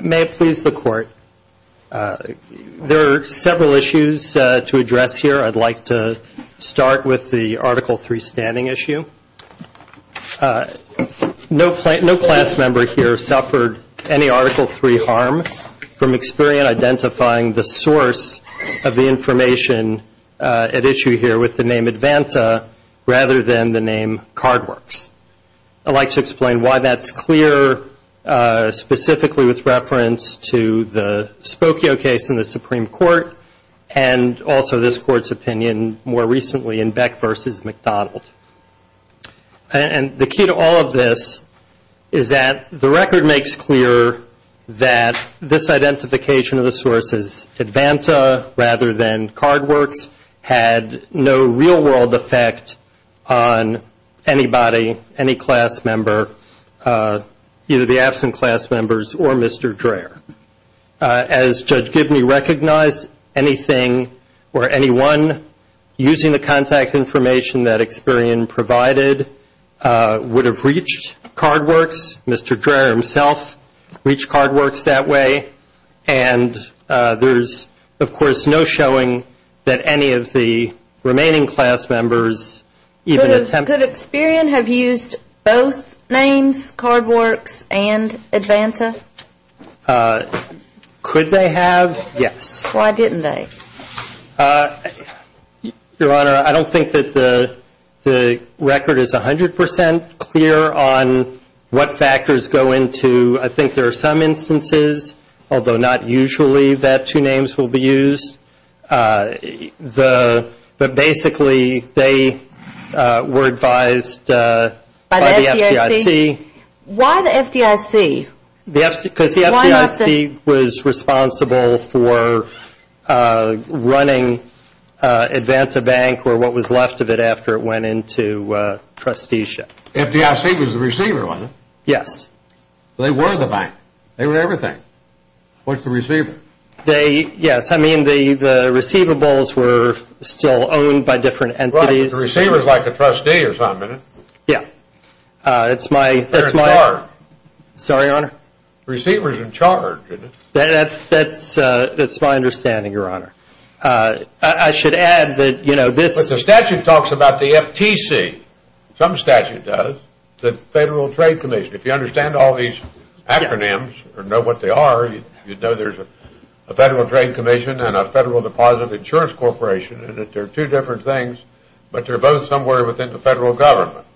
May it please the Court, there are several issues to address here. I'd like to start with the Article 3 standing issue. No class member here suffered any Article 3 harm from Experian identifying the source of the information at issue here with the name Advanta rather than the name Cardworks. I'd like to explain why that's clear, specifically with reference to the Spokio case in the Supreme Court and also this Court's opinion more recently in Beck v. McDonald. And the key to all of this is that the record makes clear that this identification of the source as Advanta rather than Cardworks had no real-world effect on anybody, any class member, either the absent class members or Mr. Dreher. As Judge Gibney recognized, anything or anyone using the contact information that Experian provided would have reached Cardworks. Mr. Dreher himself reached Cardworks that way. And there's, of course, no showing that any of the remaining class members even attempted. Could Experian have used both names, Cardworks and Advanta? Could they have? Yes. Why didn't they? Your Honor, I don't think that the record is 100% clear on what factors go into. I think there are some instances, although not usually, that two names will be used. But basically, they were advised by the FDIC. Why the FDIC? Because the FDIC was responsible for running Advanta Bank or what was left of it after it went into trusteeship. The FDIC was the receiver, wasn't it? Yes. They were the bank. They were everything. What's the receiver? Yes. I mean, the receivables were still owned by different entities. Right. The receiver is like the trustee or something. Yeah. They're in charge. Sorry, Your Honor? The receiver is in charge. That's my understanding, Your Honor. I should add that, you know, this – But the statute talks about the FTC. Some statute does. The Federal Trade Commission. If you understand all these acronyms or know what they are, you'd know there's a Federal Trade Commission and a Federal Deposit Insurance Corporation and that they're two different things, but they're both somewhere within the federal government.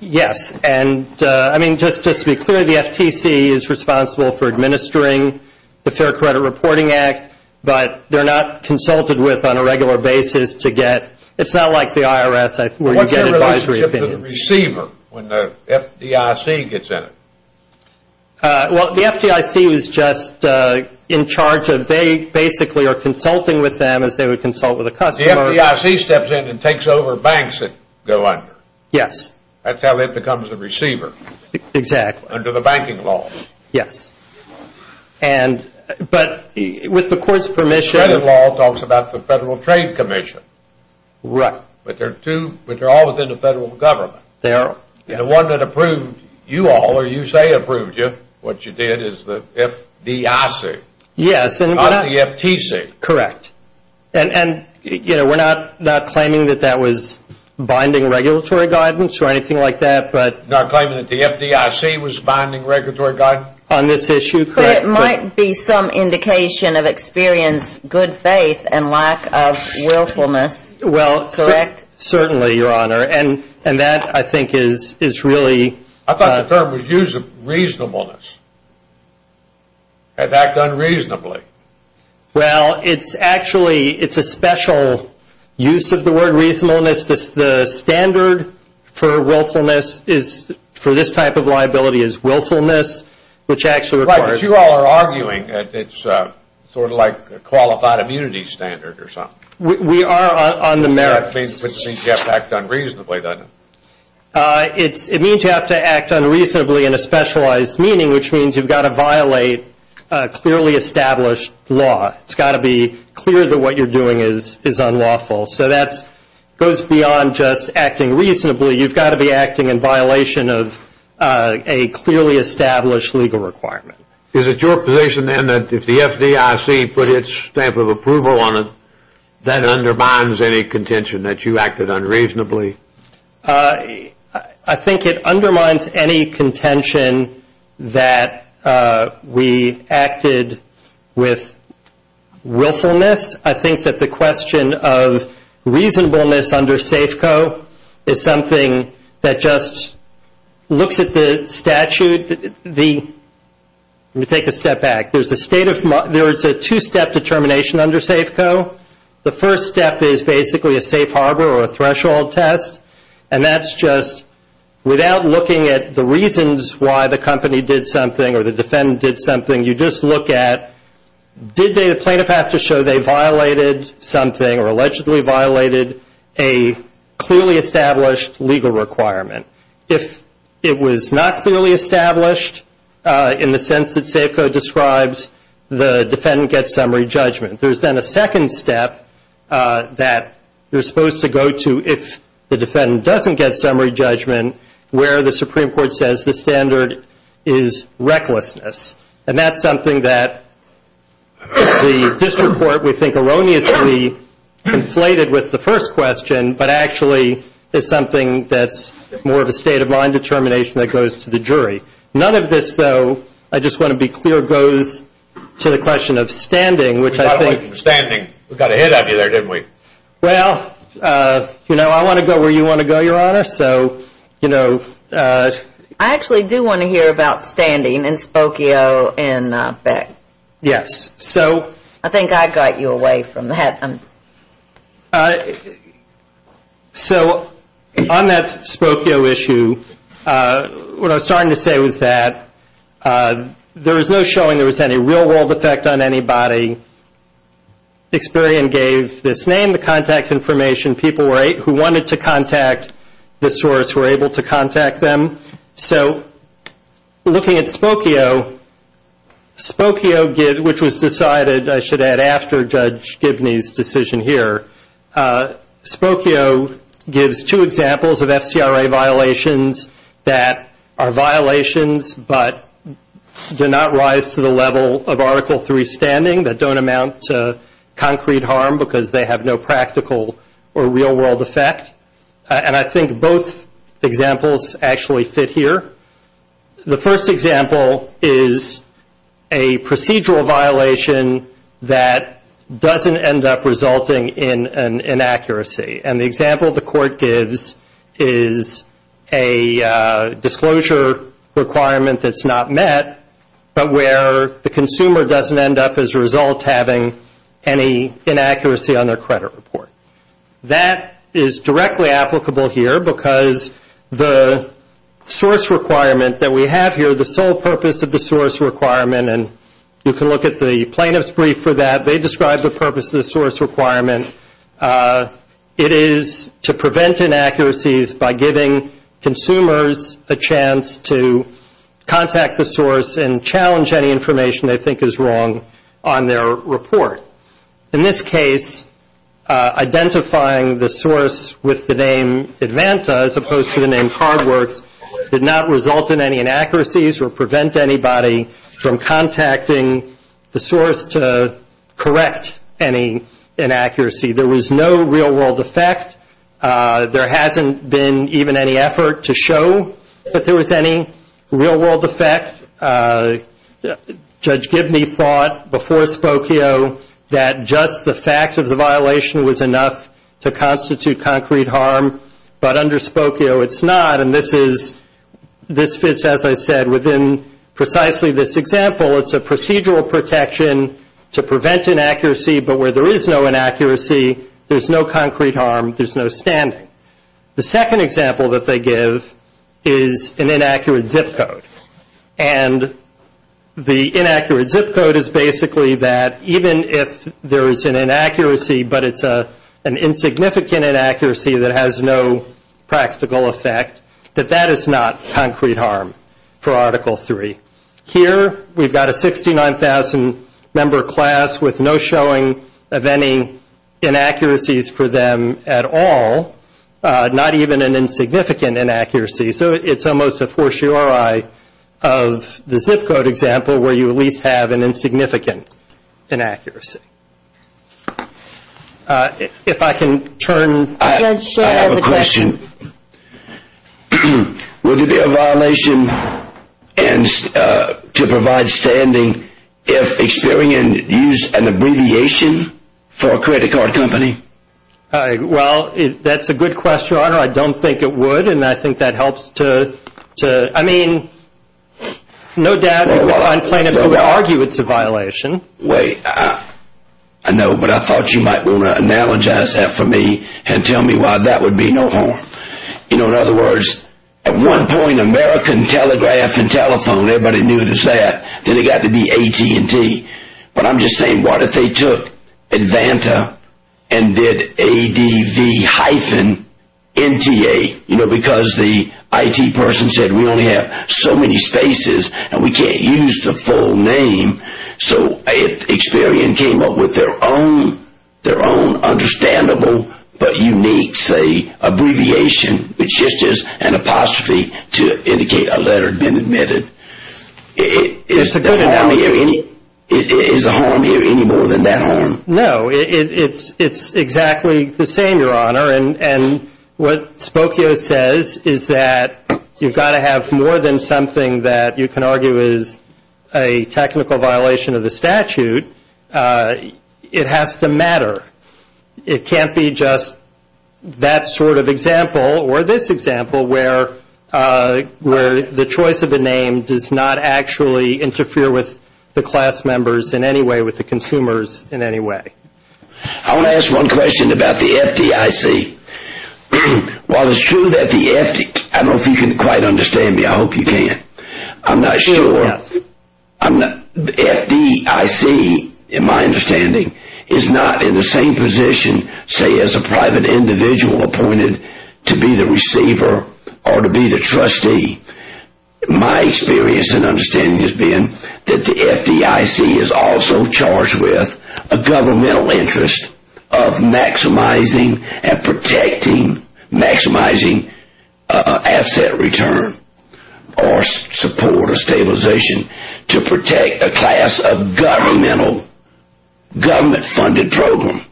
Yes. And, I mean, just to be clear, the FTC is responsible for administering the Fair Credit Reporting Act, but they're not consulted with on a regular basis to get – it's not like the IRS where you get advisory opinions. What's their relationship to the receiver when the FDIC gets in it? Well, the FDIC was just in charge of – they basically are consulting with them as they would consult with a customer. The FDIC steps in and takes over banks that go under. Yes. That's how it becomes a receiver. Exactly. Under the banking law. Yes. And – but with the court's permission – The credit law talks about the Federal Trade Commission. Right. But they're two – but they're all within the federal government. They are. And the one that approved you all, or you say approved you, what you did, is the FDIC. Yes. Not the FTC. Correct. And, you know, we're not claiming that that was binding regulatory guidance or anything like that, but – You're not claiming that the FDIC was binding regulatory guidance? On this issue, correct. But it might be some indication of experience, good faith, and lack of willfulness. Well, certainly, Your Honor. And that, I think, is really – I thought the term was used of reasonableness. Had that done reasonably? Well, it's actually – it's a special use of the word reasonableness. The standard for willfulness is – for this type of liability is willfulness, which actually – Right. But you all are arguing that it's sort of like a qualified immunity standard or something. We are on the merits. Which means you have to act unreasonably, doesn't it? It means you have to act unreasonably in a specialized meaning, which means you've got to violate clearly established law. It's got to be clear that what you're doing is unlawful. So that goes beyond just acting reasonably. You've got to be acting in violation of a clearly established legal requirement. Is it your position, then, that if the FDIC put its stamp of approval on it, that undermines any contention that you acted unreasonably? I think it undermines any contention that we acted with willfulness. I think that the question of reasonableness under SAFECO is something that just looks at the statute. Let me take a step back. There's a two-step determination under SAFECO. The first step is basically a safe harbor or a threshold test, and that's just without looking at the reasons why the company did something or the defendant did something. You just look at did the plaintiff have to show they violated something or allegedly violated a clearly established legal requirement. If it was not clearly established in the sense that SAFECO describes, the defendant gets summary judgment. There's then a second step that you're supposed to go to if the defendant doesn't get summary judgment where the Supreme Court says the standard is recklessness, and that's something that the district court would think erroneously inflated with the first question but actually is something that's more of a state of mind determination that goes to the jury. None of this, though, I just want to be clear, goes to the question of standing, which I think- We got away from standing. We got ahead of you there, didn't we? Well, you know, I want to go where you want to go, Your Honor, so, you know- I actually do want to hear about standing in Spokio and Beck. Yes, so- I think I got you away from that. So on that Spokio issue, what I was starting to say was that there was no showing there was any real-world effect on anybody. Experian gave this name, the contact information, people who wanted to contact the source were able to contact them. So looking at Spokio, Spokio, which was decided, I should add, after Judge Gibney's decision here, Spokio gives two examples of FCRA violations that are violations but do not rise to the level of Article III standing, that don't amount to concrete harm because they have no practical or real-world effect. And I think both examples actually fit here. The first example is a procedural violation that doesn't end up resulting in an inaccuracy. And the example the Court gives is a disclosure requirement that's not met, but where the consumer doesn't end up as a result having any inaccuracy on their credit report. That is directly applicable here because the source requirement that we have here, the sole purpose of the source requirement, and you can look at the plaintiff's brief for that, they describe the purpose of the source requirement. It is to prevent inaccuracies by giving consumers a chance to contact the source and challenge any information they think is wrong on their report. In this case, identifying the source with the name Advanta, as opposed to the name Cardworks, did not result in any inaccuracies or prevent anybody from contacting the source to correct any inaccuracy. There was no real-world effect. There hasn't been even any effort to show that there was any real-world effect. Judge Gibney thought before Spokio that just the fact of the violation was enough to constitute concrete harm, but under Spokio it's not, and this fits, as I said, within precisely this example. It's a procedural protection to prevent inaccuracy, but where there is no inaccuracy, there's no concrete harm, there's no standing. The second example that they give is an inaccurate zip code, and the inaccurate zip code is basically that even if there is an inaccuracy, but it's an insignificant inaccuracy that has no practical effect, that that is not concrete harm for Article III. Here we've got a 69,000-member class with no showing of any inaccuracies for them at all, not even an insignificant inaccuracy, so it's almost a fortiori of the zip code example where you at least have an insignificant inaccuracy. If I can turn. I have a question. Would it be a violation to provide standing if Experian used an abbreviation for a credit card company? Well, that's a good question, Your Honor. I don't think it would, and I think that helps to, I mean, No, Dad, I'm planning to argue it's a violation. Wait. I know, but I thought you might want to analogize that for me and tell me why that would be no harm. You know, in other words, at one point, American telegraph and telephone, everybody knew it was that. Then it got to be AT&T, but I'm just saying what if they took Advanta and did ADV hyphen NTA, you know, because the IT person said we only have so many spaces and we can't use the full name. So if Experian came up with their own understandable but unique, say, abbreviation, which is just an apostrophe to indicate a letter had been admitted, is a harm here any more than that harm? No, it's exactly the same, Your Honor. And what Spokio says is that you've got to have more than something that you can argue is a technical violation of the statute. It has to matter. It can't be just that sort of example or this example where the choice of the name does not actually interfere with the class members in any way, with the consumers in any way. I want to ask one question about the FDIC. While it's true that the FDIC, I don't know if you can quite understand me. I hope you can. I'm not sure. The FDIC, in my understanding, is not in the same position, say, as a private individual appointed to be the receiver or to be the trustee. My experience and understanding has been that the FDIC is also charged with a governmental interest of maximizing and protecting, maximizing asset return or support or stabilization to protect a class of governmental, government-funded program.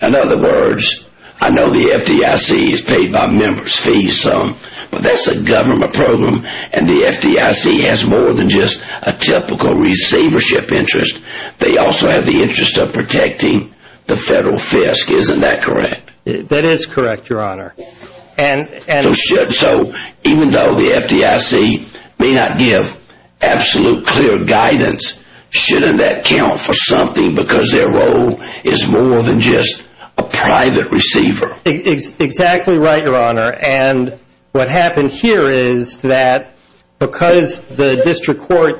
In other words, I know the FDIC is paid by members' fees, but that's a government program, and the FDIC has more than just a typical receivership interest. They also have the interest of protecting the federal FISC. Isn't that correct? That is correct, Your Honor. So even though the FDIC may not give absolute clear guidance, shouldn't that count for something because their role is more than just a private receiver? Exactly right, Your Honor. And what happened here is that because the district court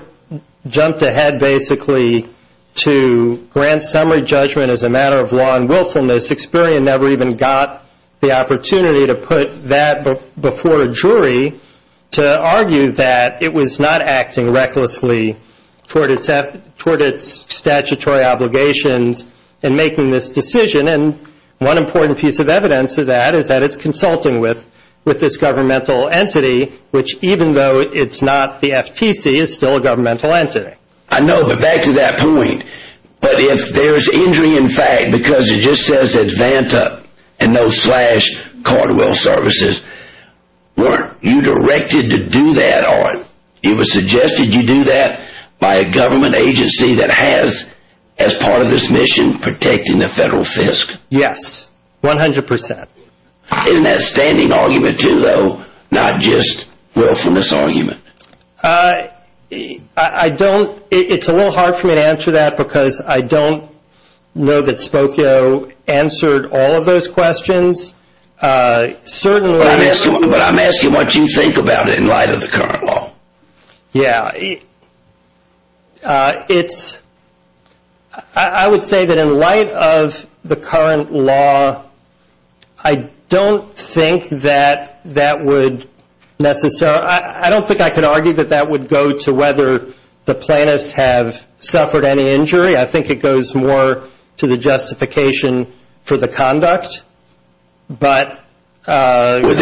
jumped ahead basically to grant summary judgment as a matter of law and willfulness, the Sixperian never even got the opportunity to put that before a jury to argue that it was not acting recklessly toward its statutory obligations in making this decision. And one important piece of evidence of that is that it's consulting with this governmental entity, which even though it's not the FTC, is still a governmental entity. I know, but back to that point. But if there's injury in fact because it just says ADVANTA and no slash Cardwell Services, weren't you directed to do that on? It was suggested you do that by a government agency that has, as part of this mission, protecting the federal FISC? Yes, 100%. Isn't that a standing argument too, though, not just a willfulness argument? It's a little hard for me to answer that because I don't know that Spokio answered all of those questions. But I'm asking what you think about it in light of the current law. Yeah. It's – I would say that in light of the current law, I don't think that that would necessarily – I don't think I could argue that that would go to whether the plaintiffs have suffered any injury. I think it goes more to the justification for the conduct. But – Would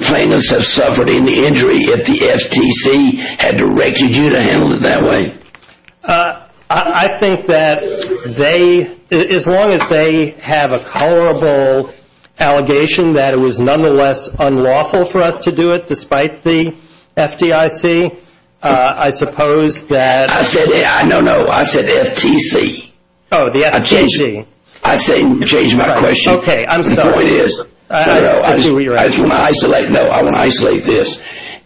plaintiffs have suffered any injury if the FTC had directed you to handle it that way? I think that they – as long as they have a colorable allegation that it was nonetheless unlawful for us to do it despite the FDIC, I suppose that – I said – no, no, I said FTC. Oh, the FTC. I changed my question. Okay, I'm sorry. The point is – I see where you're at. No, I want to isolate this.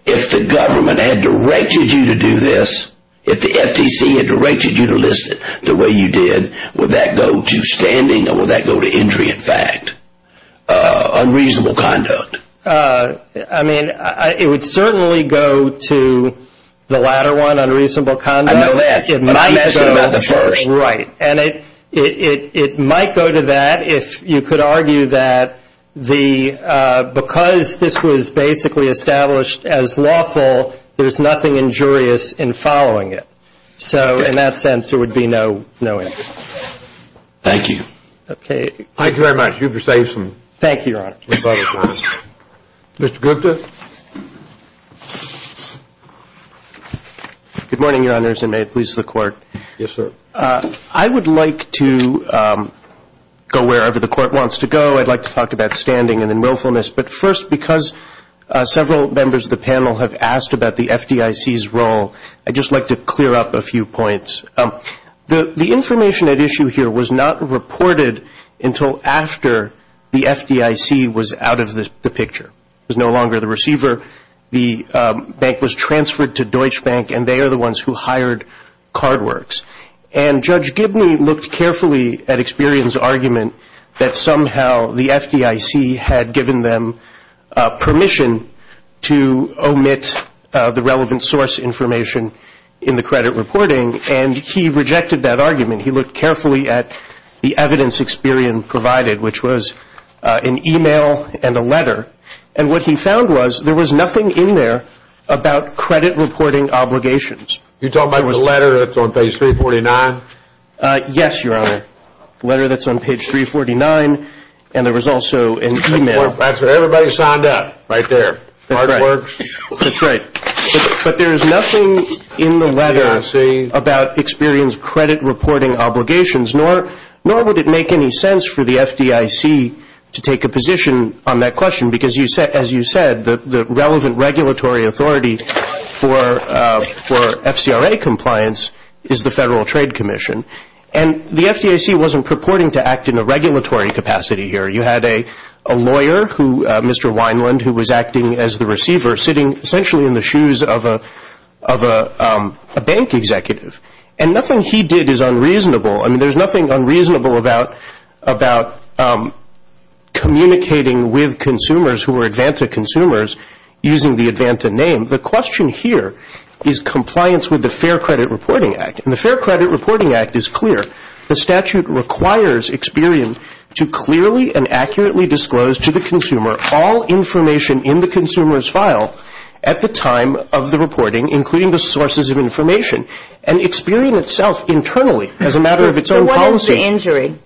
If the government had directed you to do this, if the FTC had directed you to list it the way you did, would that go to standing or would that go to injury in fact, unreasonable conduct? I mean, it would certainly go to the latter one, unreasonable conduct. I know that, but I'm asking about the first. Right. And it might go to that if you could argue that the – because this was basically established as lawful, there's nothing injurious in following it. So in that sense, there would be no injury. Thank you. Okay. Thank you very much. You've received some – Thank you, Your Honor. Good morning, Your Honors, and may it please the Court. Yes, sir. I would like to go wherever the Court wants to go. I'd like to talk about standing and then willfulness. But first, because several members of the panel have asked about the FDIC's role, I'd just like to clear up a few points. The information at issue here was not reported until after the FDIC was out of the picture. It was no longer the receiver. The bank was transferred to Deutsche Bank, and they are the ones who hired Cardworks. And Judge Gibney looked carefully at Experian's argument that somehow the FDIC had given them permission to omit the relevant source information in the credit reporting, and he rejected that argument. He looked carefully at the evidence Experian provided, which was an e-mail and a letter. And what he found was there was nothing in there about credit reporting obligations. You're talking about the letter that's on page 349? Yes, Your Honor. The letter that's on page 349, and there was also an e-mail. That's what everybody signed up, right there. Cardworks. That's right. But there is nothing in the letter about Experian's credit reporting obligations, nor would it make any sense for the FDIC to take a position on that question, because as you said, the relevant regulatory authority for FCRA compliance is the Federal Trade Commission. And the FDIC wasn't purporting to act in a regulatory capacity here. You had a lawyer, Mr. Wineland, who was acting as the receiver, sitting essentially in the shoes of a bank executive. And nothing he did is unreasonable. I mean, there's nothing unreasonable about communicating with consumers who are ADVANTA consumers using the ADVANTA name. The question here is compliance with the Fair Credit Reporting Act. And the Fair Credit Reporting Act is clear. The statute requires Experian to clearly and accurately disclose to the consumer all information in the consumer's file at the time of the reporting, including the sources of information. And Experian itself, internally, as a matter of its own policies. So what is the injury?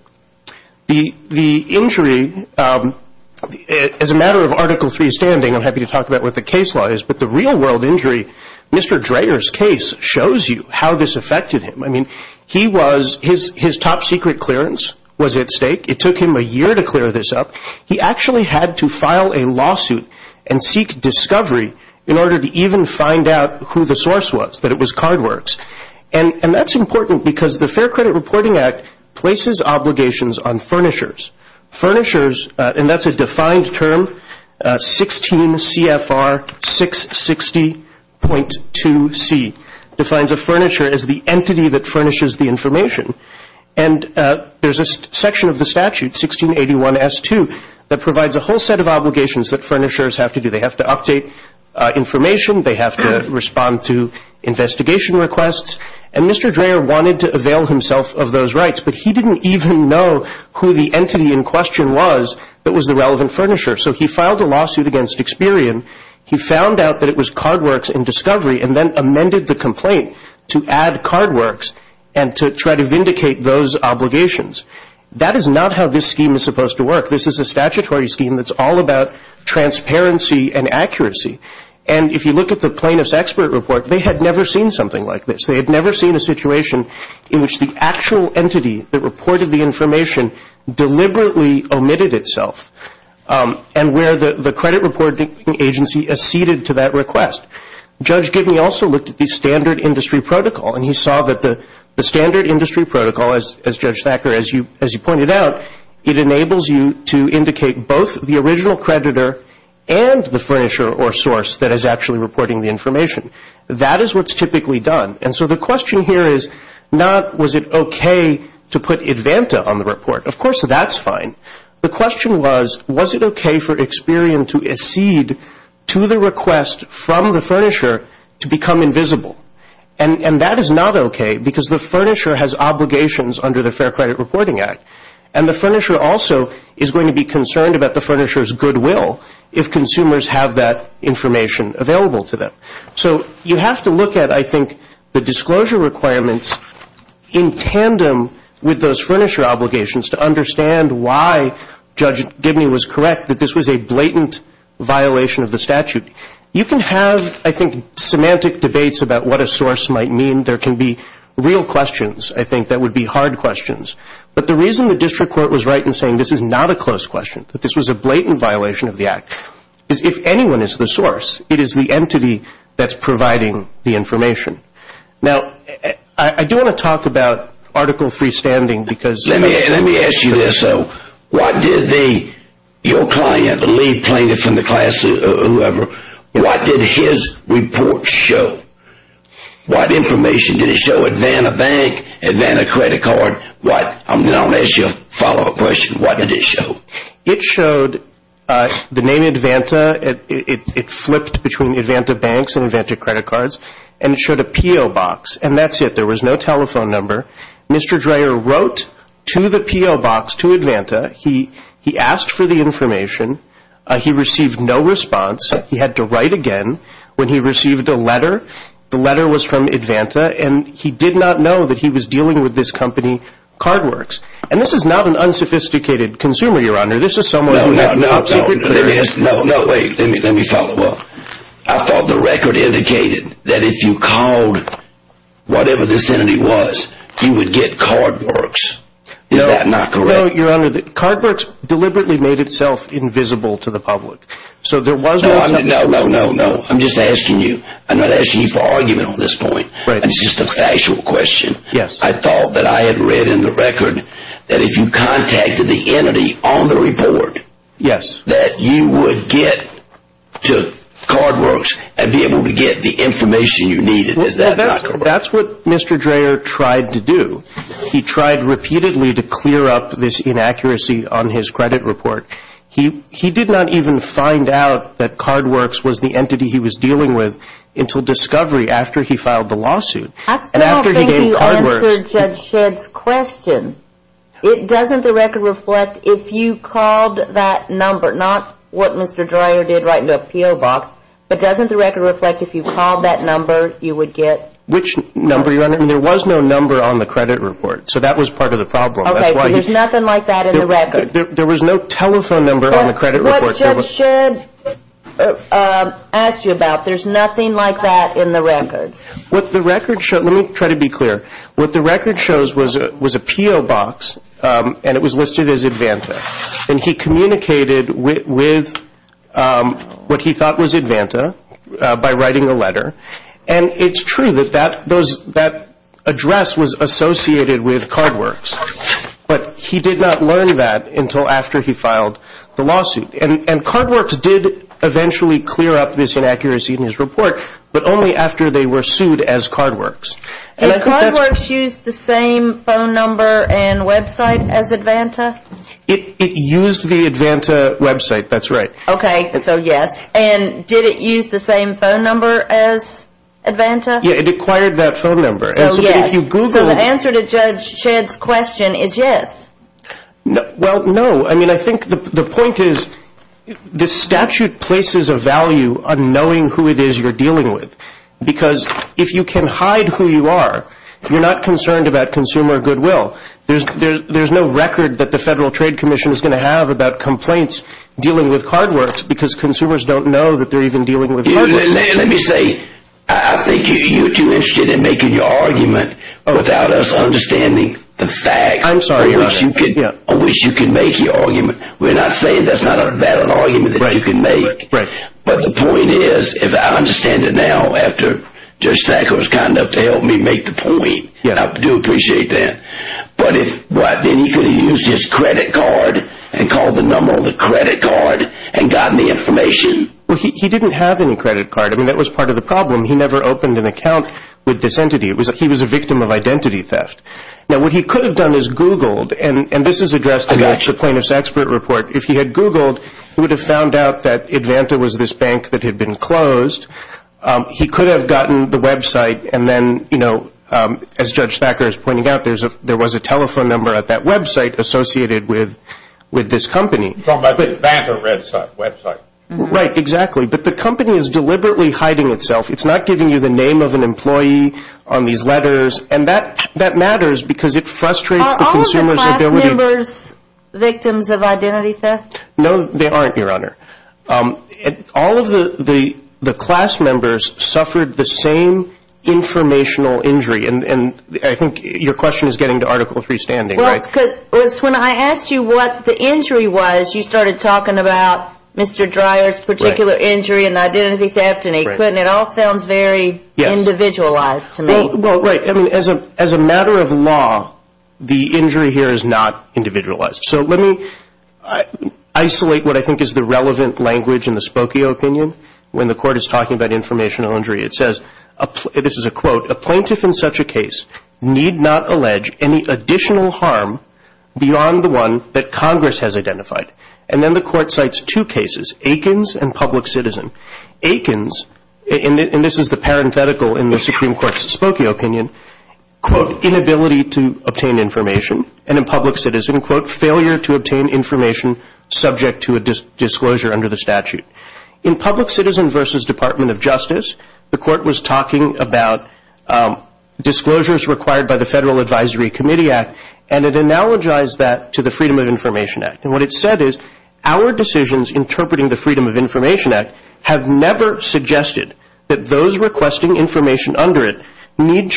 The injury, as a matter of Article III standing, I'm happy to talk about what the case law is, but the real-world injury, Mr. Dreher's case, shows you how this affected him. I mean, his top-secret clearance was at stake. It took him a year to clear this up. He actually had to file a lawsuit and seek discovery in order to even find out who the source was, that it was Cardworks. And that's important because the Fair Credit Reporting Act places obligations on furnishers. Furnishers, and that's a defined term, 16 CFR 660.2C, defines a furnisher as the entity that furnishes the information. And there's a section of the statute, 1681S2, that provides a whole set of obligations that furnishers have to do. They have to update information. They have to respond to investigation requests. And Mr. Dreher wanted to avail himself of those rights, but he didn't even know who the entity in question was that was the relevant furnisher. So he filed a lawsuit against Experian. He found out that it was Cardworks in discovery and then amended the complaint to add Cardworks and to try to vindicate those obligations. That is not how this scheme is supposed to work. This is a statutory scheme that's all about transparency and accuracy. And if you look at the plaintiff's expert report, they had never seen something like this. They had never seen a situation in which the actual entity that reported the information deliberately omitted itself, and where the credit reporting agency acceded to that request. Judge Gibney also looked at the standard industry protocol, and he saw that the standard industry protocol, as Judge Thacker, as you pointed out, it enables you to indicate both the original creditor and the furnisher or source that is actually reporting the information. That is what's typically done. And so the question here is not was it okay to put IDVANTA on the report. Of course, that's fine. The question was, was it okay for Experian to accede to the request from the furnisher to become invisible? And that is not okay because the furnisher has obligations under the Fair Credit Reporting Act, and the furnisher also is going to be concerned about the furnisher's goodwill if consumers have that information available to them. So you have to look at, I think, the disclosure requirements in tandem with those furnisher obligations to understand why Judge Gibney was correct that this was a blatant violation of the statute. You can have, I think, semantic debates about what a source might mean. There can be real questions, I think, that would be hard questions. But the reason the district court was right in saying this is not a close question, that this was a blatant violation of the Act, is if anyone is the source, it is the entity that's providing the information. Now, I do want to talk about Article III standing. Let me ask you this, though. What did your client, the lead plaintiff in the class or whoever, what did his report show? What information did it show? ADVANTA bank, ADVANTA credit card? I'm going to ask you a follow-up question. What did it show? It showed the name ADVANTA. It flipped between ADVANTA banks and ADVANTA credit cards. And it showed a P.O. box. And that's it. There was no telephone number. Mr. Dreher wrote to the P.O. box, to ADVANTA. He asked for the information. He received no response. He had to write again. When he received a letter, the letter was from ADVANTA, and he did not know that he was dealing with this company, Cardworks. And this is not an unsophisticated consumer, Your Honor. This is someone who has a secret clearance. No, wait. Let me follow up. I thought the record indicated that if you called whatever this entity was, you would get Cardworks. Is that not correct? No, Your Honor. Cardworks deliberately made itself invisible to the public. No, no, no. I'm just asking you. I'm not asking you for argument on this point. It's just a factual question. I thought that I had read in the record that if you contacted the entity on the report, that you would get to Cardworks and be able to get the information you needed. Is that not correct? That's what Mr. Dreher tried to do. He tried repeatedly to clear up this inaccuracy on his credit report. He did not even find out that Cardworks was the entity he was dealing with until discovery after he filed the lawsuit. I still think you answered Judge Shedd's question. It doesn't the record reflect if you called that number, not what Mr. Dreher did right in the appeal box, but doesn't the record reflect if you called that number, you would get? Which number, Your Honor? There was no number on the credit report, so that was part of the problem. Okay, so there's nothing like that in the record. There was no telephone number on the credit report. What Judge Shedd asked you about, there's nothing like that in the record. What the record shows, let me try to be clear. What the record shows was an appeal box, and it was listed as Advanta. And he communicated with what he thought was Advanta by writing a letter. And it's true that that address was associated with Cardworks, but he did not learn that until after he filed the lawsuit. And Cardworks did eventually clear up this inaccuracy in his report, but only after they were sued as Cardworks. Did Cardworks use the same phone number and website as Advanta? It used the Advanta website. That's right. Okay, so yes. And did it use the same phone number as Advanta? Yeah, it acquired that phone number. So yes. So the answer to Judge Shedd's question is yes. Well, no. I mean, I think the point is the statute places a value on knowing who it is you're dealing with, because if you can hide who you are, you're not concerned about consumer goodwill. There's no record that the Federal Trade Commission is going to have about complaints dealing with Cardworks because consumers don't know that they're even dealing with Cardworks. Let me say, I think you're too interested in making your argument without us understanding the facts. I'm sorry about that. On which you can make your argument. We're not saying that's not a valid argument that you can make. Right. But the point is, if I understand it now, after Judge Thacker was kind enough to help me make the point, I do appreciate that. But then he could have used his credit card and called the number on the credit card and gotten the information. Well, he didn't have any credit card. I mean, that was part of the problem. He never opened an account with this entity. He was a victim of identity theft. Now, what he could have done is Googled, and this is addressed in the plaintiff's expert report. If he had Googled, he would have found out that Advanta was this bank that had been closed. He could have gotten the website, and then, you know, as Judge Thacker is pointing out, there was a telephone number at that website associated with this company. Advanta website. Right, exactly. But the company is deliberately hiding itself. It's not giving you the name of an employee on these letters, and that matters because it frustrates the consumers. Are the class members victims of identity theft? No, they aren't, Your Honor. All of the class members suffered the same informational injury, and I think your question is getting to Article III standing, right? Well, it's because when I asked you what the injury was, you started talking about Mr. Dreyer's particular injury and identity theft, and it all sounds very individualized to me. Well, right. I mean, as a matter of law, the injury here is not individualized. So let me isolate what I think is the relevant language in the Spokio opinion. When the court is talking about informational injury, it says, this is a quote, a plaintiff in such a case need not allege any additional harm beyond the one that Congress has identified. And then the court cites two cases, Aikens and Public Citizen. Aikens, and this is the parenthetical in the Supreme Court's Spokio opinion, quote, inability to obtain information, and in Public Citizen, quote, failure to obtain information subject to a disclosure under the statute. In Public Citizen versus Department of Justice, the court was talking about disclosures required by the Federal Advisory Committee Act, and it analogized that to the Freedom of Information Act. And what it said is, our decisions interpreting the Freedom of Information Act have never suggested that those requesting information under it need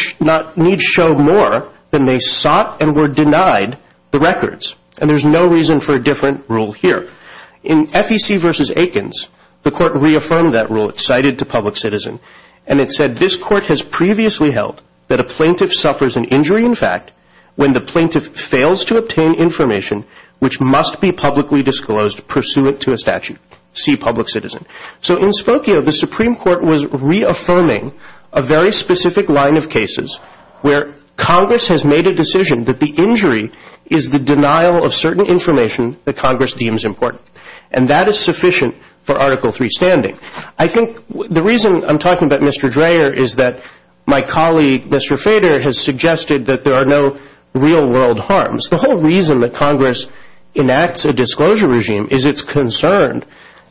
show more than they sought and were denied the records. And there's no reason for a different rule here. In FEC versus Aikens, the court reaffirmed that rule. It cited to Public Citizen, and it said, this court has previously held that a plaintiff suffers an injury in fact when the plaintiff fails to obtain information which must be publicly disclosed pursuant to a statute. See Public Citizen. So in Spokio, the Supreme Court was reaffirming a very specific line of cases where Congress has made a decision that the injury is the denial of certain information that Congress deems important. And that is sufficient for Article III standing. I think the reason I'm talking about Mr. Dreher is that my colleague, Mr. Fader, has suggested that there are no real world harms. The whole reason that Congress enacts a disclosure regime is it's concerned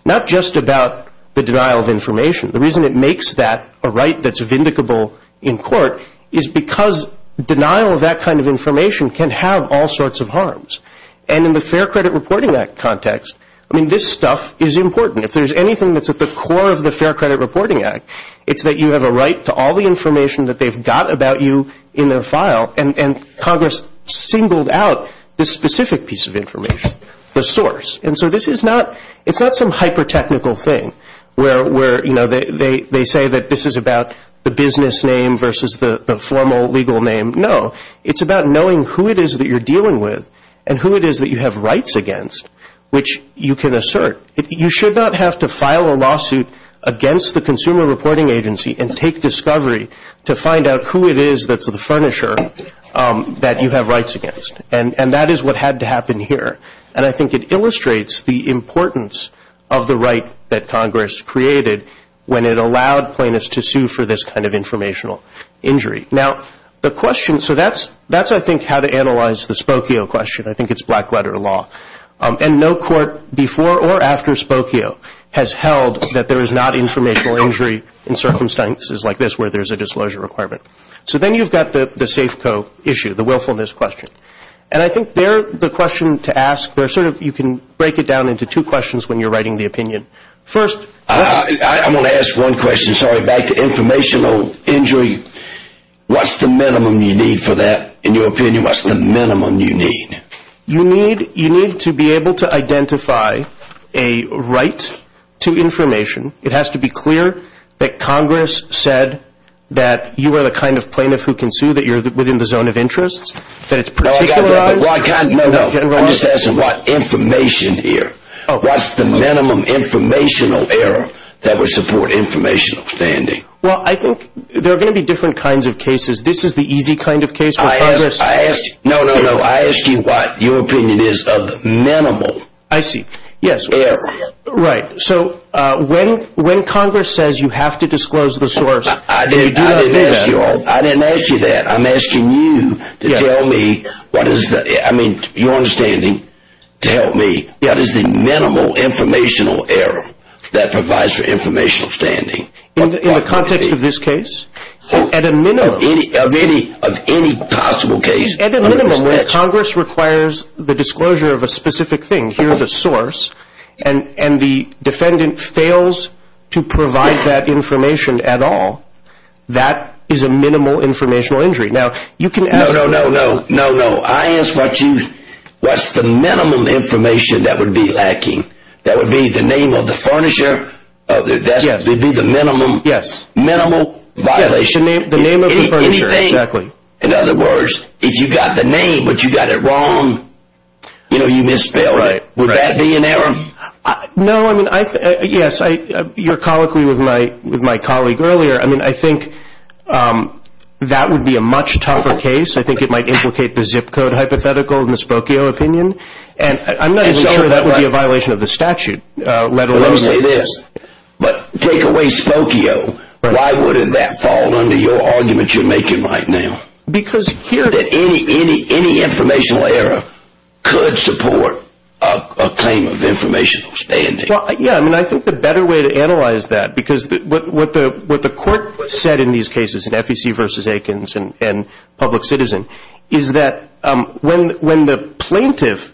not just about the denial of information. The reason it makes that a right that's vindicable in court is because denial of that kind of information can have all sorts of harms. And in the Fair Credit Reporting Act context, I mean, this stuff is important. If there's anything that's at the core of the Fair Credit Reporting Act, it's that you have a right to all the information that they've got about you in their file. And Congress singled out this specific piece of information, the source. And so this is not some hyper-technical thing where, you know, they say that this is about the business name versus the formal legal name. No. It's about knowing who it is that you're dealing with and who it is that you have rights against which you can assert. You should not have to file a lawsuit against the Consumer Reporting Agency and take discovery to find out who it is that's the furnisher that you have rights against. And that is what had to happen here. And I think it illustrates the importance of the right that Congress created when it allowed plaintiffs to sue for this kind of informational injury. Now, the question, so that's, I think, how to analyze the Spokio question. I think it's black-letter law. And no court before or after Spokio has held that there is not informational injury in circumstances like this where there's a disclosure requirement. So then you've got the Safeco issue, the willfulness question. And I think they're the question to ask where sort of you can break it down into two questions when you're writing the opinion. First, let's... I'm going to ask one question, sorry, back to informational injury. What's the minimum you need for that, in your opinion? What's the minimum you need? You need to be able to identify a right to information. It has to be clear that Congress said that you are the kind of plaintiff who can sue, that you're within the zone of interest, that it's particularized... No, I got that. No, no. I'm just asking what information here. What's the minimum informational error that would support informational standing? Well, I think there are going to be different kinds of cases. This is the easy kind of case where Congress... No, no, no. I asked you what your opinion is of minimal error. I see. Yes. Right. So when Congress says you have to disclose the source... I didn't ask you that. I'm asking you to tell me what is the... I mean, your understanding to help me, what is the minimal informational error that provides for informational standing? In the context of this case? At a minimum. Of any possible case. At a minimum. When Congress requires the disclosure of a specific thing, here's the source, and the defendant fails to provide that information at all, that is a minimal informational injury. Now, you can ask... No, no, no. No, no. I asked what's the minimum information that would be lacking? That would be the name of the furnisher? Yes. That would be the minimum? Yes. Minimal violation? Yes. The name of the furnisher. Exactly. In other words, if you got the name, but you got it wrong, you know, you misspelled it. Right. Would that be an error? No, I mean, yes. Your colloquy with my colleague earlier, I mean, I think that would be a much tougher case. I think it might implicate the zip code hypothetical in the Spokio opinion, and I'm not even sure that would be a violation of the statute. Let me say this, but take away Spokio, why wouldn't that fall under your argument you're making right now? Because here... That any informational error could support a claim of informational standing. Well, yeah, I mean, I think the better way to analyze that, because what the court said in these cases, in FEC versus Aikens and Public Citizen, is that when the plaintiff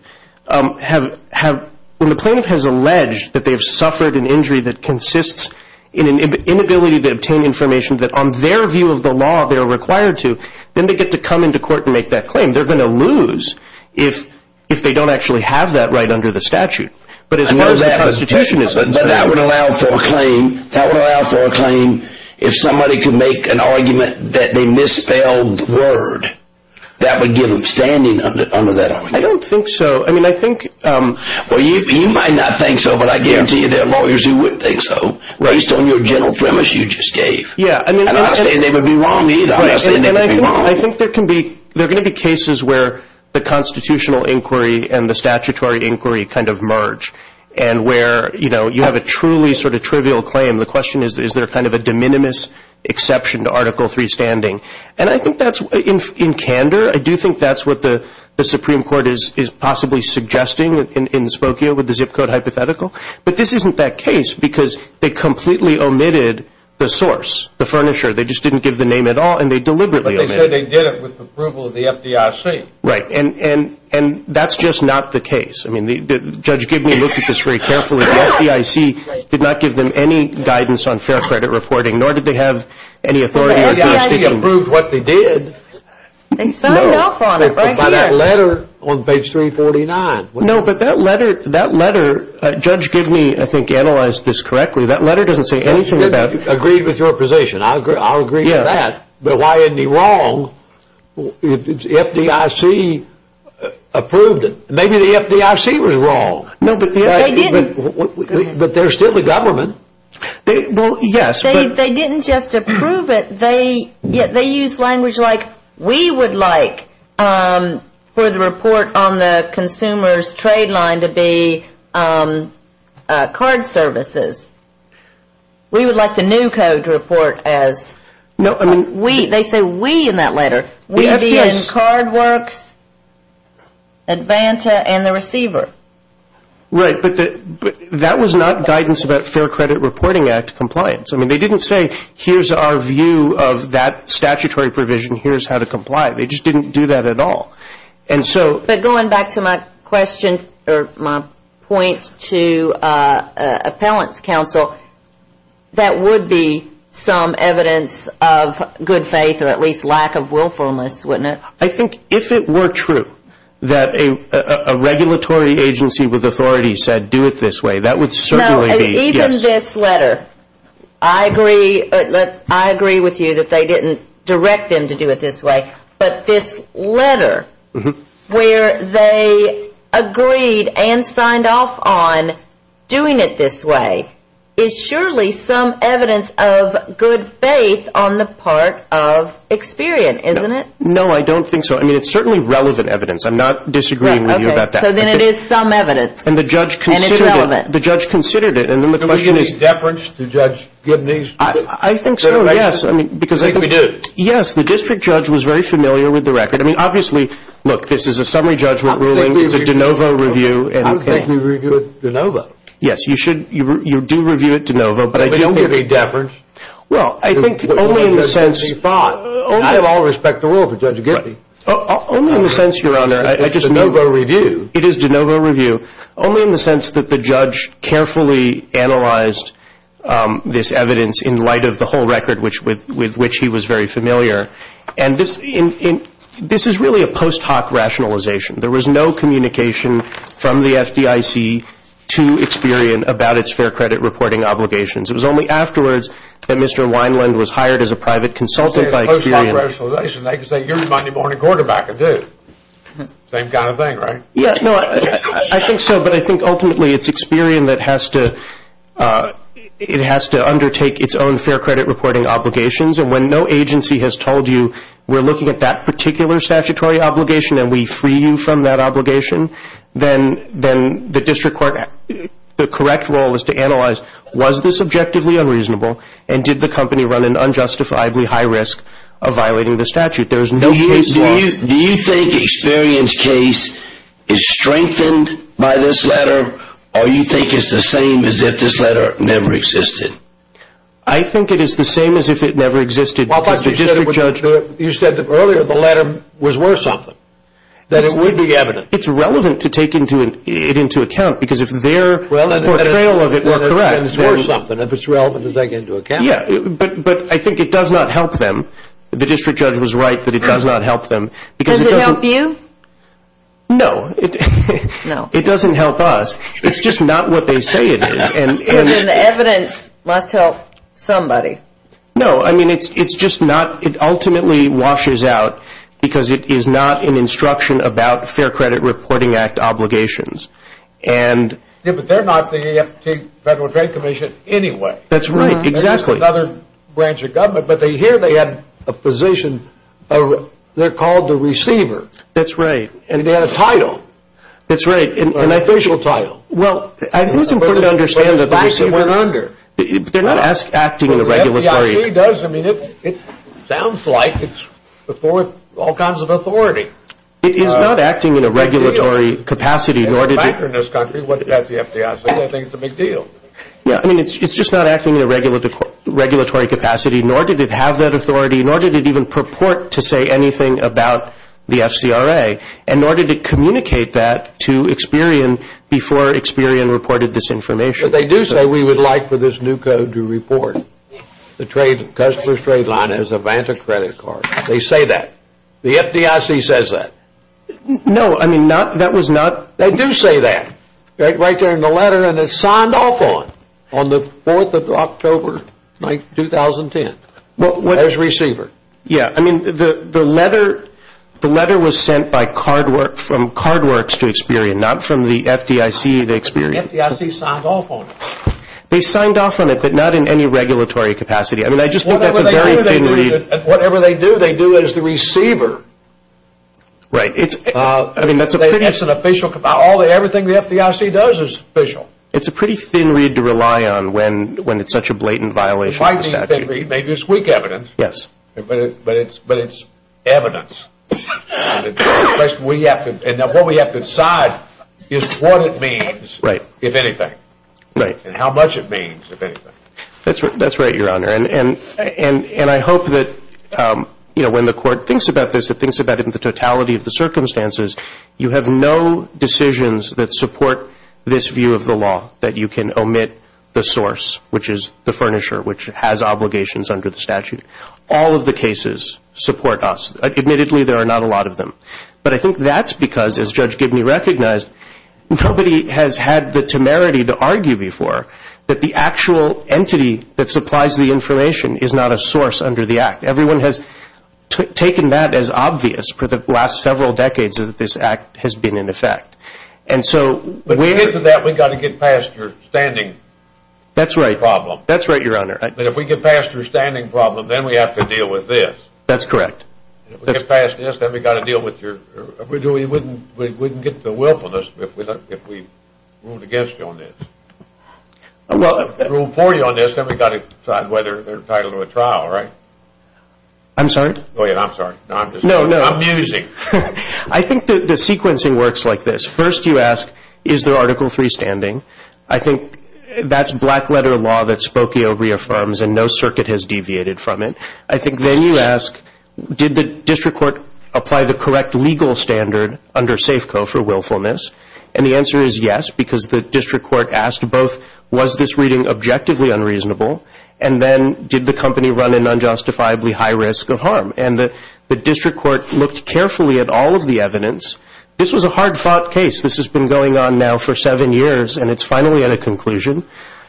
has alleged that they've suffered an injury that consists in an inability to obtain information that, on their view of the law, they're required to, then they get to come into court and make that claim. They're going to lose if they don't actually have that right under the statute. But as far as the Constitution is concerned... But that would allow for a claim if somebody could make an argument that they misspelled the word. That would give them standing under that argument. I don't think so. I mean, I think... Well, you might not think so, but I guarantee you there are lawyers who would think so, based on your general premise you just gave. Yeah, I mean... And I'm not saying they would be wrong either. I'm not saying they would be wrong. Well, I think there can be, there are going to be cases where the constitutional inquiry and the statutory inquiry kind of merge, and where, you know, you have a truly sort of trivial claim. The question is, is there kind of a de minimis exception to Article III standing? And I think that's, in candor, I do think that's what the Supreme Court is possibly suggesting in Spokio with the zip code hypothetical. But this isn't that case, because they completely omitted the source, the furnisher. They just didn't give the name at all, and they deliberately omitted it. But they said they did it with approval of the FDIC. Right, and that's just not the case. I mean, Judge Gibney looked at this very carefully. The FDIC did not give them any guidance on fair credit reporting, nor did they have any authority or jurisdiction... Well, the FDIC approved what they did. They signed off on it right here. No, but by that letter on page 349. No, but that letter, Judge Gibney, I think, analyzed this correctly. That letter doesn't say anything about... Agreed with your position. I'll agree with that. But why isn't he wrong if the FDIC approved it? Maybe the FDIC was wrong. No, but they didn't. But they're still the government. Well, yes, but... They didn't just approve it. They used language like, we would like for the report on the consumer's trade line to be card services. We would like the new code to report as... No, I mean... They say we in that letter. We'd be in card works, Advanta, and the receiver. Right, but that was not guidance about Fair Credit Reporting Act compliance. I mean, they didn't say, here's our view of that statutory provision. Here's how to comply. They just didn't do that at all. But going back to my question or my point to Appellant's Counsel, that would be some evidence of good faith or at least lack of willfulness, wouldn't it? I think if it were true that a regulatory agency with authority said, do it this way, that would certainly be... No, even this letter. I agree with you that they didn't direct them to do it this way. But this letter, where they agreed and signed off on doing it this way, is surely some evidence of good faith on the part of Experian, isn't it? No, I don't think so. I mean, it's certainly relevant evidence. I'm not disagreeing with you about that. Okay, so then it is some evidence, and it's relevant. And the judge considered it, and then the question is... Did we give any deference to Judge Gibney's direction? I think so, yes. I think we did. Yes, the district judge was very familiar with the record. I mean, obviously, look, this is a summary judgment ruling. It's a de novo review. I don't think we review it de novo. Yes, you do review it de novo. But we don't give any deference. Well, I think only in the sense... I have all respect to the rule of Judge Gibney. Only in the sense, Your Honor, I just... It's de novo review. It is de novo review. Only in the sense that the judge carefully analyzed this evidence in light of the whole record with which he was very familiar. And this is really a post hoc rationalization. There was no communication from the FDIC to Experian about its fair credit reporting obligations. It was only afterwards that Mr. Wineland was hired as a private consultant by Experian. I say it's a post hoc rationalization. They can say you're the Monday morning quarterback, I do. Same kind of thing, right? Yes, no, I think so. But I think ultimately it's Experian that has to undertake its own fair credit reporting obligations. And when no agency has told you we're looking at that particular statutory obligation and we free you from that obligation, then the district court... the correct role is to analyze was this objectively unreasonable and did the company run an unjustifiably high risk of violating the statute. There is no case law... Do you think Experian's case is strengthened by this letter or do you think it's the same as if this letter never existed? I think it is the same as if it never existed because the district judge... You said earlier the letter was worth something. That it would be evidence. It's relevant to take it into account because if their portrayal of it were correct... It's worth something if it's relevant to take into account. But I think it does not help them. The district judge was right that it does not help them. Does it help you? No, it doesn't help us. It's just not what they say it is. Evidence must help somebody. No, I mean it's just not... It ultimately washes out because it is not an instruction about fair credit reporting act obligations. But they're not the Federal Trade Commission anyway. That's right, exactly. It's another branch of government but here they have a position. They're called the receiver. That's right. And they have a title. That's right. An official title. Well, it's important to understand that the receiver... They're not acting in a regulatory... The FDIC does. I mean it sounds like it's before all kinds of authority. It is not acting in a regulatory capacity nor did it... There's a factor in this country. What about the FDIC? I think it's a big deal. Yeah, I mean it's just not acting in a regulatory capacity nor did it have that authority nor did it even purport to say anything about the FCRA and nor did it communicate that to Experian before Experian reported this information. But they do say we would like for this new code to report the customer's trade line as a Vanta credit card. They say that. The FDIC says that. No, I mean that was not... They do say that. Right there in the letter and it's signed off on, on the 4th of October, 2010, as receiver. Yeah, I mean the letter was sent from Cardworks to Experian, not from the FDIC to Experian. The FDIC signed off on it. They signed off on it but not in any regulatory capacity. I mean I just think that's a very thin read. Whatever they do, they do as the receiver. Right. It's an official, everything the FDIC does is official. It's a pretty thin read to rely on when it's such a blatant violation of the statute. It might be a thin read. Maybe it's weak evidence. Yes. But it's evidence. What we have to decide is what it means, if anything. Right. And how much it means, if anything. That's right, Your Honor. And I hope that, you know, when the court thinks about this, it thinks about it in the totality of the circumstances. You have no decisions that support this view of the law that you can omit the source, which is the furnisher, which has obligations under the statute. All of the cases support us. Admittedly, there are not a lot of them. But I think that's because, as Judge Gibney recognized, nobody has had the temerity to argue before that the actual entity that supplies the information is not a source under the Act. Everyone has taken that as obvious for the last several decades that this Act has been in effect. And so we need to get past your standing problem. That's right. That's right, Your Honor. But if we get past your standing problem, then we have to deal with this. That's correct. If we get past this, then we've got to deal with your – we wouldn't get the willfulness if we ruled against you on this. Rule 40 on this, then we've got to decide whether they're entitled to a trial, right? I'm sorry? Go ahead. I'm sorry. No, no. I'm musing. I think the sequencing works like this. First you ask, is there Article III standing? I think that's black-letter law that Spokio reaffirms, and no circuit has deviated from it. I think then you ask, did the district court apply the correct legal standard under Safeco for willfulness? And the answer is yes, because the district court asked both, was this reading objectively unreasonable? And then, did the company run an unjustifiably high risk of harm? And the district court looked carefully at all of the evidence. This was a hard-fought case. This has been going on now for seven years, and it's finally at a conclusion.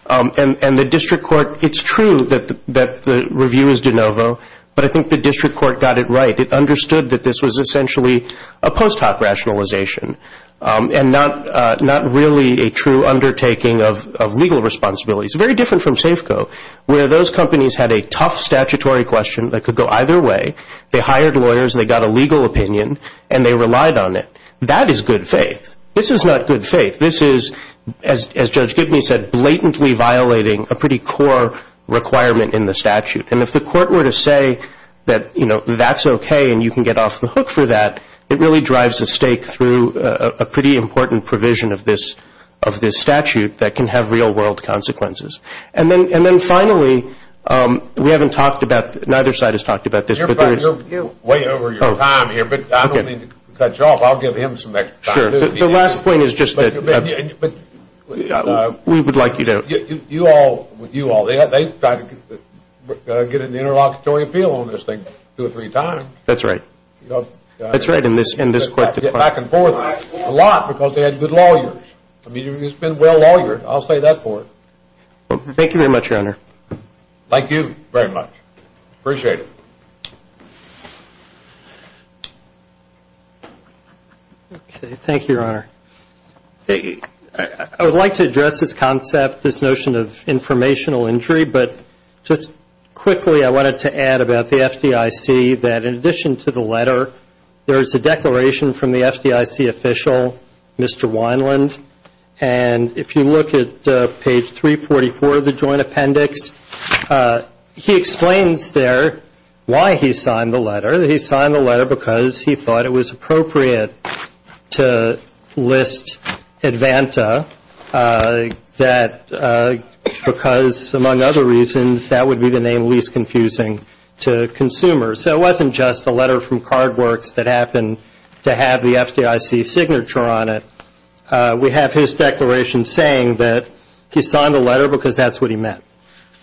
And the district court, it's true that the review is de novo, but I think the district court got it right. It understood that this was essentially a post hoc rationalization and not really a true undertaking of legal responsibility. It's very different from Safeco, where those companies had a tough statutory question that could go either way. They hired lawyers. They got a legal opinion, and they relied on it. That is good faith. This is not good faith. This is, as Judge Gibney said, blatantly violating a pretty core requirement in the statute. And if the court were to say that, you know, that's okay and you can get off the hook for that, it really drives a stake through a pretty important provision of this statute that can have real-world consequences. And then finally, we haven't talked about, neither side has talked about this. You're way over your time here, but I don't mean to cut you off. I'll give him some extra time. Sure. The last point is just that we would like you to. You all, you all, they've tried to get an interlocutory appeal on this thing two or three times. That's right. That's right, in this court. Back and forth a lot because they had good lawyers. I mean, it's been well lawyered. I'll say that for it. Thank you very much, Your Honor. Thank you very much. Appreciate it. Okay. Thank you, Your Honor. I would like to address this concept, this notion of informational injury, but just quickly I wanted to add about the FDIC that in addition to the letter, there is a declaration from the FDIC official, Mr. Wineland, and if you look at page 344 of the joint appendix, he explains there why he signed the letter. He signed the letter because he thought it was appropriate to list Advanta because, among other reasons, that would be the name least confusing to consumers. So it wasn't just a letter from Cardworks that happened to have the FDIC signature on it. We have his declaration saying that he signed the letter because that's what he meant,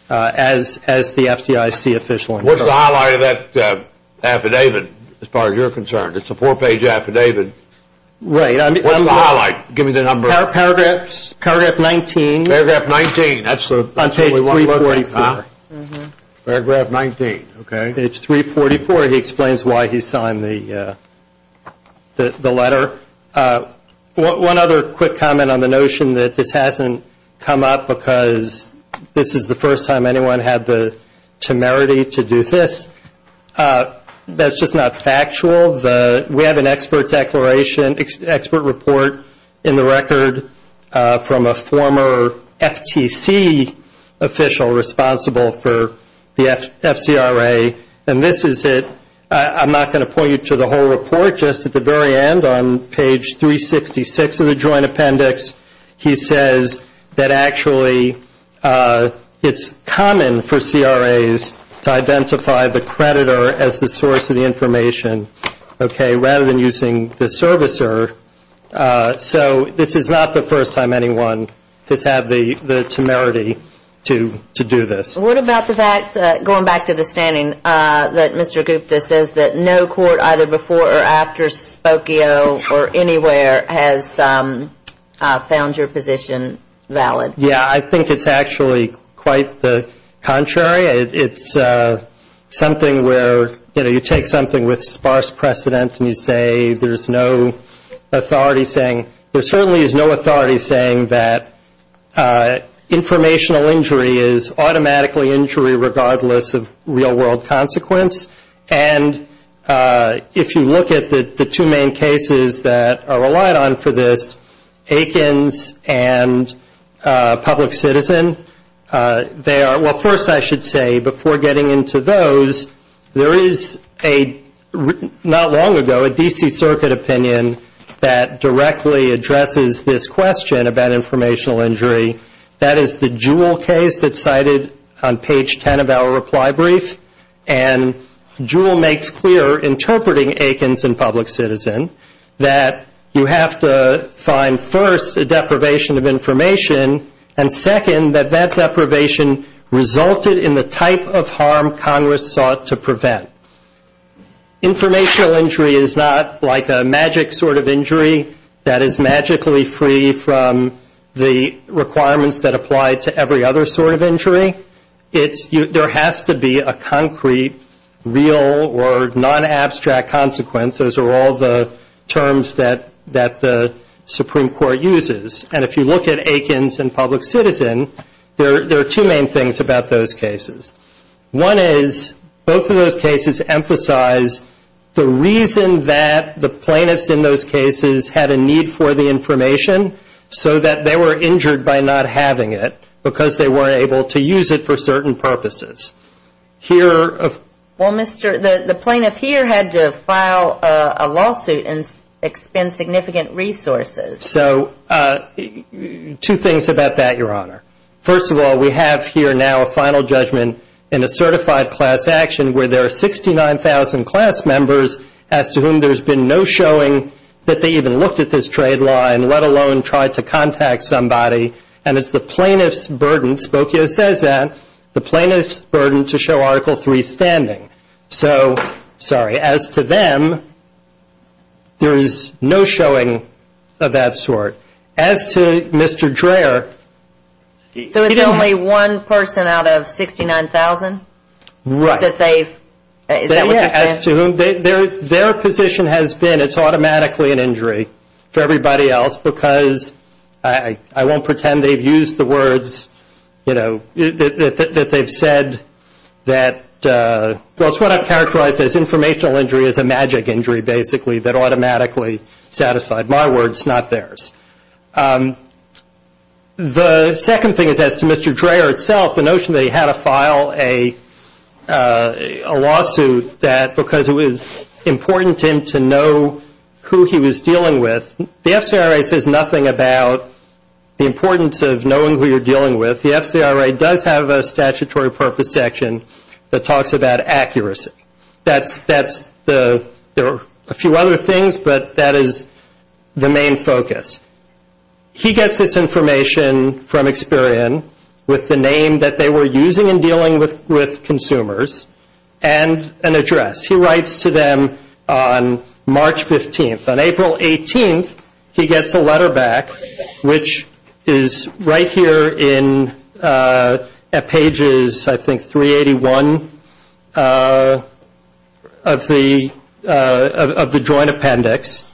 as the FDIC official incurred. What's the highlight of that affidavit as far as you're concerned? It's a four-page affidavit. Right. What's the highlight? Give me the number. Paragraph 19. Paragraph 19. That's what we want to look at. On page 344. Paragraph 19. Okay. On page 344, he explains why he signed the letter. One other quick comment on the notion that this hasn't come up because this is the first time anyone had the temerity to do this. That's just not factual. We have an expert declaration, expert report in the record from a former FTC official responsible for the FCRA. And this is it. I'm not going to point you to the whole report. Just at the very end, on page 366 of the joint appendix, he says that actually it's common for CRAs to identify the creditor as the source of the information, okay, rather than using the servicer. So this is not the first time anyone has had the temerity to do this. What about the fact, going back to the standing, that Mr. Gupta says that no court either before or after Spokio or anywhere has found your position valid? Yeah, I think it's actually quite the contrary. It's something where, you know, you take something with sparse precedent and you say there's no authority saying, there certainly is no authority saying that informational injury is automatically injury regardless of real-world consequence. And if you look at the two main cases that are relied on for this, Aikens and Public Citizen, they are, well, first I should say, before getting into those, there is a, not long ago, a D.C. Circuit opinion that directly addresses this question about informational injury. That is the Jewell case that's cited on page 10 of our reply brief. And Jewell makes clear, interpreting Aikens and Public Citizen, that you have to find first a deprivation of information, and second that that deprivation resulted in the type of harm Congress sought to prevent. Informational injury is not like a magic sort of injury that is magically free from the requirements that apply to every other sort of injury. There has to be a concrete, real or non-abstract consequence. Those are all the terms that the Supreme Court uses. And if you look at Aikens and Public Citizen, there are two main things about those cases. One is, both of those cases emphasize the reason that the plaintiffs in those cases had a need for the information, so that they were injured by not having it, because they weren't able to use it for certain purposes. Here of. Well, Mr., the plaintiff here had to file a lawsuit and expend significant resources. So, two things about that, Your Honor. First of all, we have here now a final judgment in a certified class action where there are 69,000 class members as to whom there's been no showing that they even looked at this trade law and let alone tried to contact somebody. And it's the plaintiff's burden, Spokio says that, the plaintiff's burden to show Article III standing. So, sorry, as to them, there is no showing of that sort. As to Mr. Dreher. So, it's only one person out of 69,000? Right. As to whom, their position has been it's automatically an injury for everybody else, because I won't pretend they've used the words, you know, that they've said that, well, it's what I've characterized as informational injury is a magic injury, basically, that automatically satisfied my words, not theirs. The second thing is as to Mr. Dreher itself, the notion that he had to file a lawsuit that, because it was important to him to know who he was dealing with, the FCRA says nothing about the importance of knowing who you're dealing with. The FCRA does have a statutory purpose section that talks about accuracy. That's the, there are a few other things, but that is the main focus. He gets this information from Experian with the name that they were using in dealing with consumers and an address. He writes to them on March 15th. On April 18th, he gets a letter back, which is right here in, at pages, I think, 381, of the joint appendix,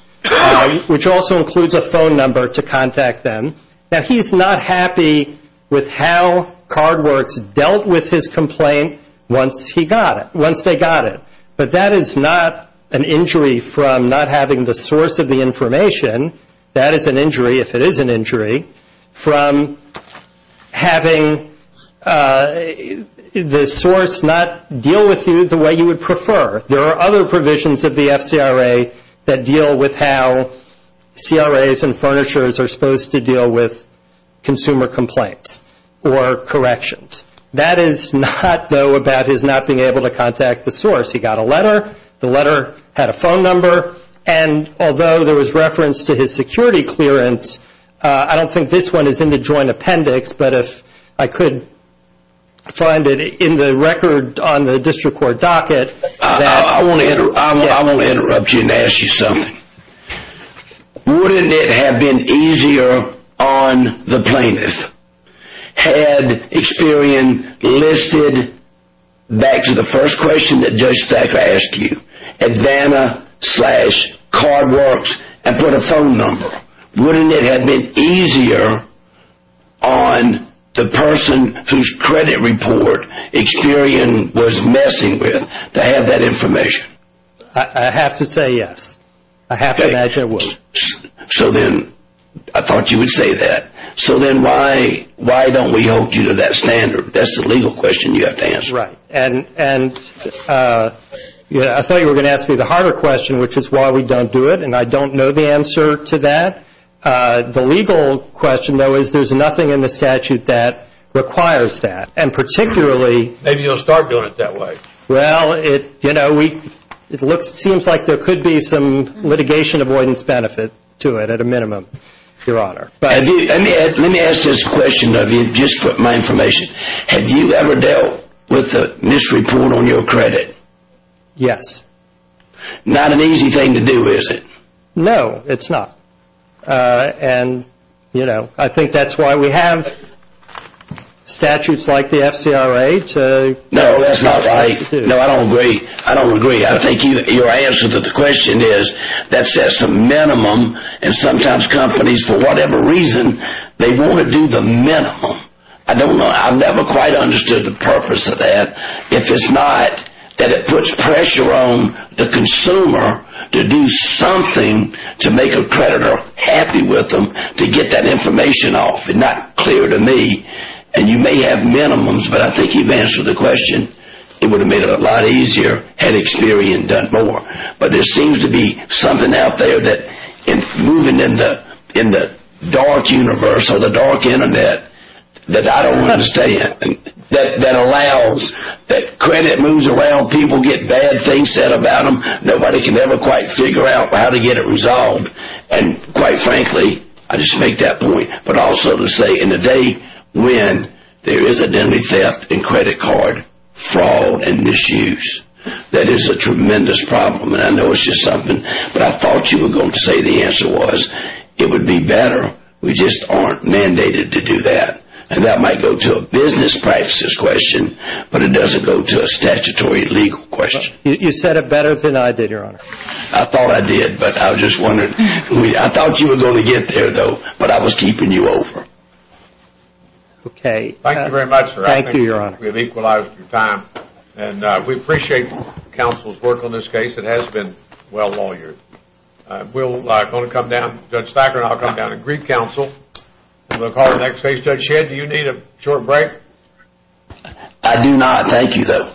which also includes a phone number to contact them. Now, he's not happy with how Cardworks dealt with his complaint once he got it, once they got it. But that is not an injury from not having the source of the information. That is an injury, if it is an injury, from having the source not deal with you the way you would like to deal with it. There are other provisions of the FCRA that deal with how CRAs and furnitures are supposed to deal with consumer complaints or corrections. That is not, though, about his not being able to contact the source. He got a letter. The letter had a phone number, and although there was reference to his security clearance, I don't think this one is in the joint appendix, but if I could find it in the record on the district court docket. I want to interrupt you and ask you something. Wouldn't it have been easier on the plaintiff had Experian listed back to the first question that Judge Thacker asked you, Advana slash Cardworks, and put a phone number? Wouldn't it have been easier on the person whose credit report Experian was messing with to have that information? I have to say yes. I have to imagine it would. I thought you would say that. So then why don't we hold you to that standard? That's the legal question you have to answer. Right. And I thought you were going to ask me the harder question, which is why we don't do it, and I don't know the answer to that. The legal question, though, is there's nothing in the statute that requires that. Maybe you'll start doing it that way. It seems like there could be some litigation avoidance benefit to it, at a minimum, Your Honor. Let me ask this question of you, just for my information. Have you ever dealt with a misreport on your credit? Yes. Not an easy thing to do, is it? No, it's not. I think that's why we have statutes like the FCRA. No, that's not right. No, I don't agree. I don't agree. I think your answer to the question is that sets a minimum, and sometimes companies, for whatever reason, they want to do the minimum. I don't know. I've never quite understood the purpose of that. If it's not that it puts pressure on the consumer to do something to make a creditor happy with them, to get that information off. It's not clear to me, and you may have minimums, but I think you've answered the question. It would have made it a lot easier had Experian done more. But there seems to be something out there that, moving in the dark universe, or the dark Internet, that I don't understand, that allows that credit moves around. People get bad things said about them. Nobody can ever quite figure out how to get it resolved. Quite frankly, I just make that point, but also to say, in the day when there is a deadly theft in credit card fraud and misuse, that is a tremendous problem. I know it's just something, but I thought you were going to say the answer was, it would be better. We just aren't mandated to do that. That might go to a business practices question, but it doesn't go to a statutory legal question. You said it better than I did, Your Honor. I thought I did, but I was just wondering. I thought you were going to get there, though, but I was keeping you over. Thank you very much, sir. We have equalized your time, and we appreciate counsel's work on this case. It has been well lawyered. Judge Thacker and I will come down and greet counsel, and we will call the next case. Judge Shedd, do you need a short break? I do not. Thank you, sir.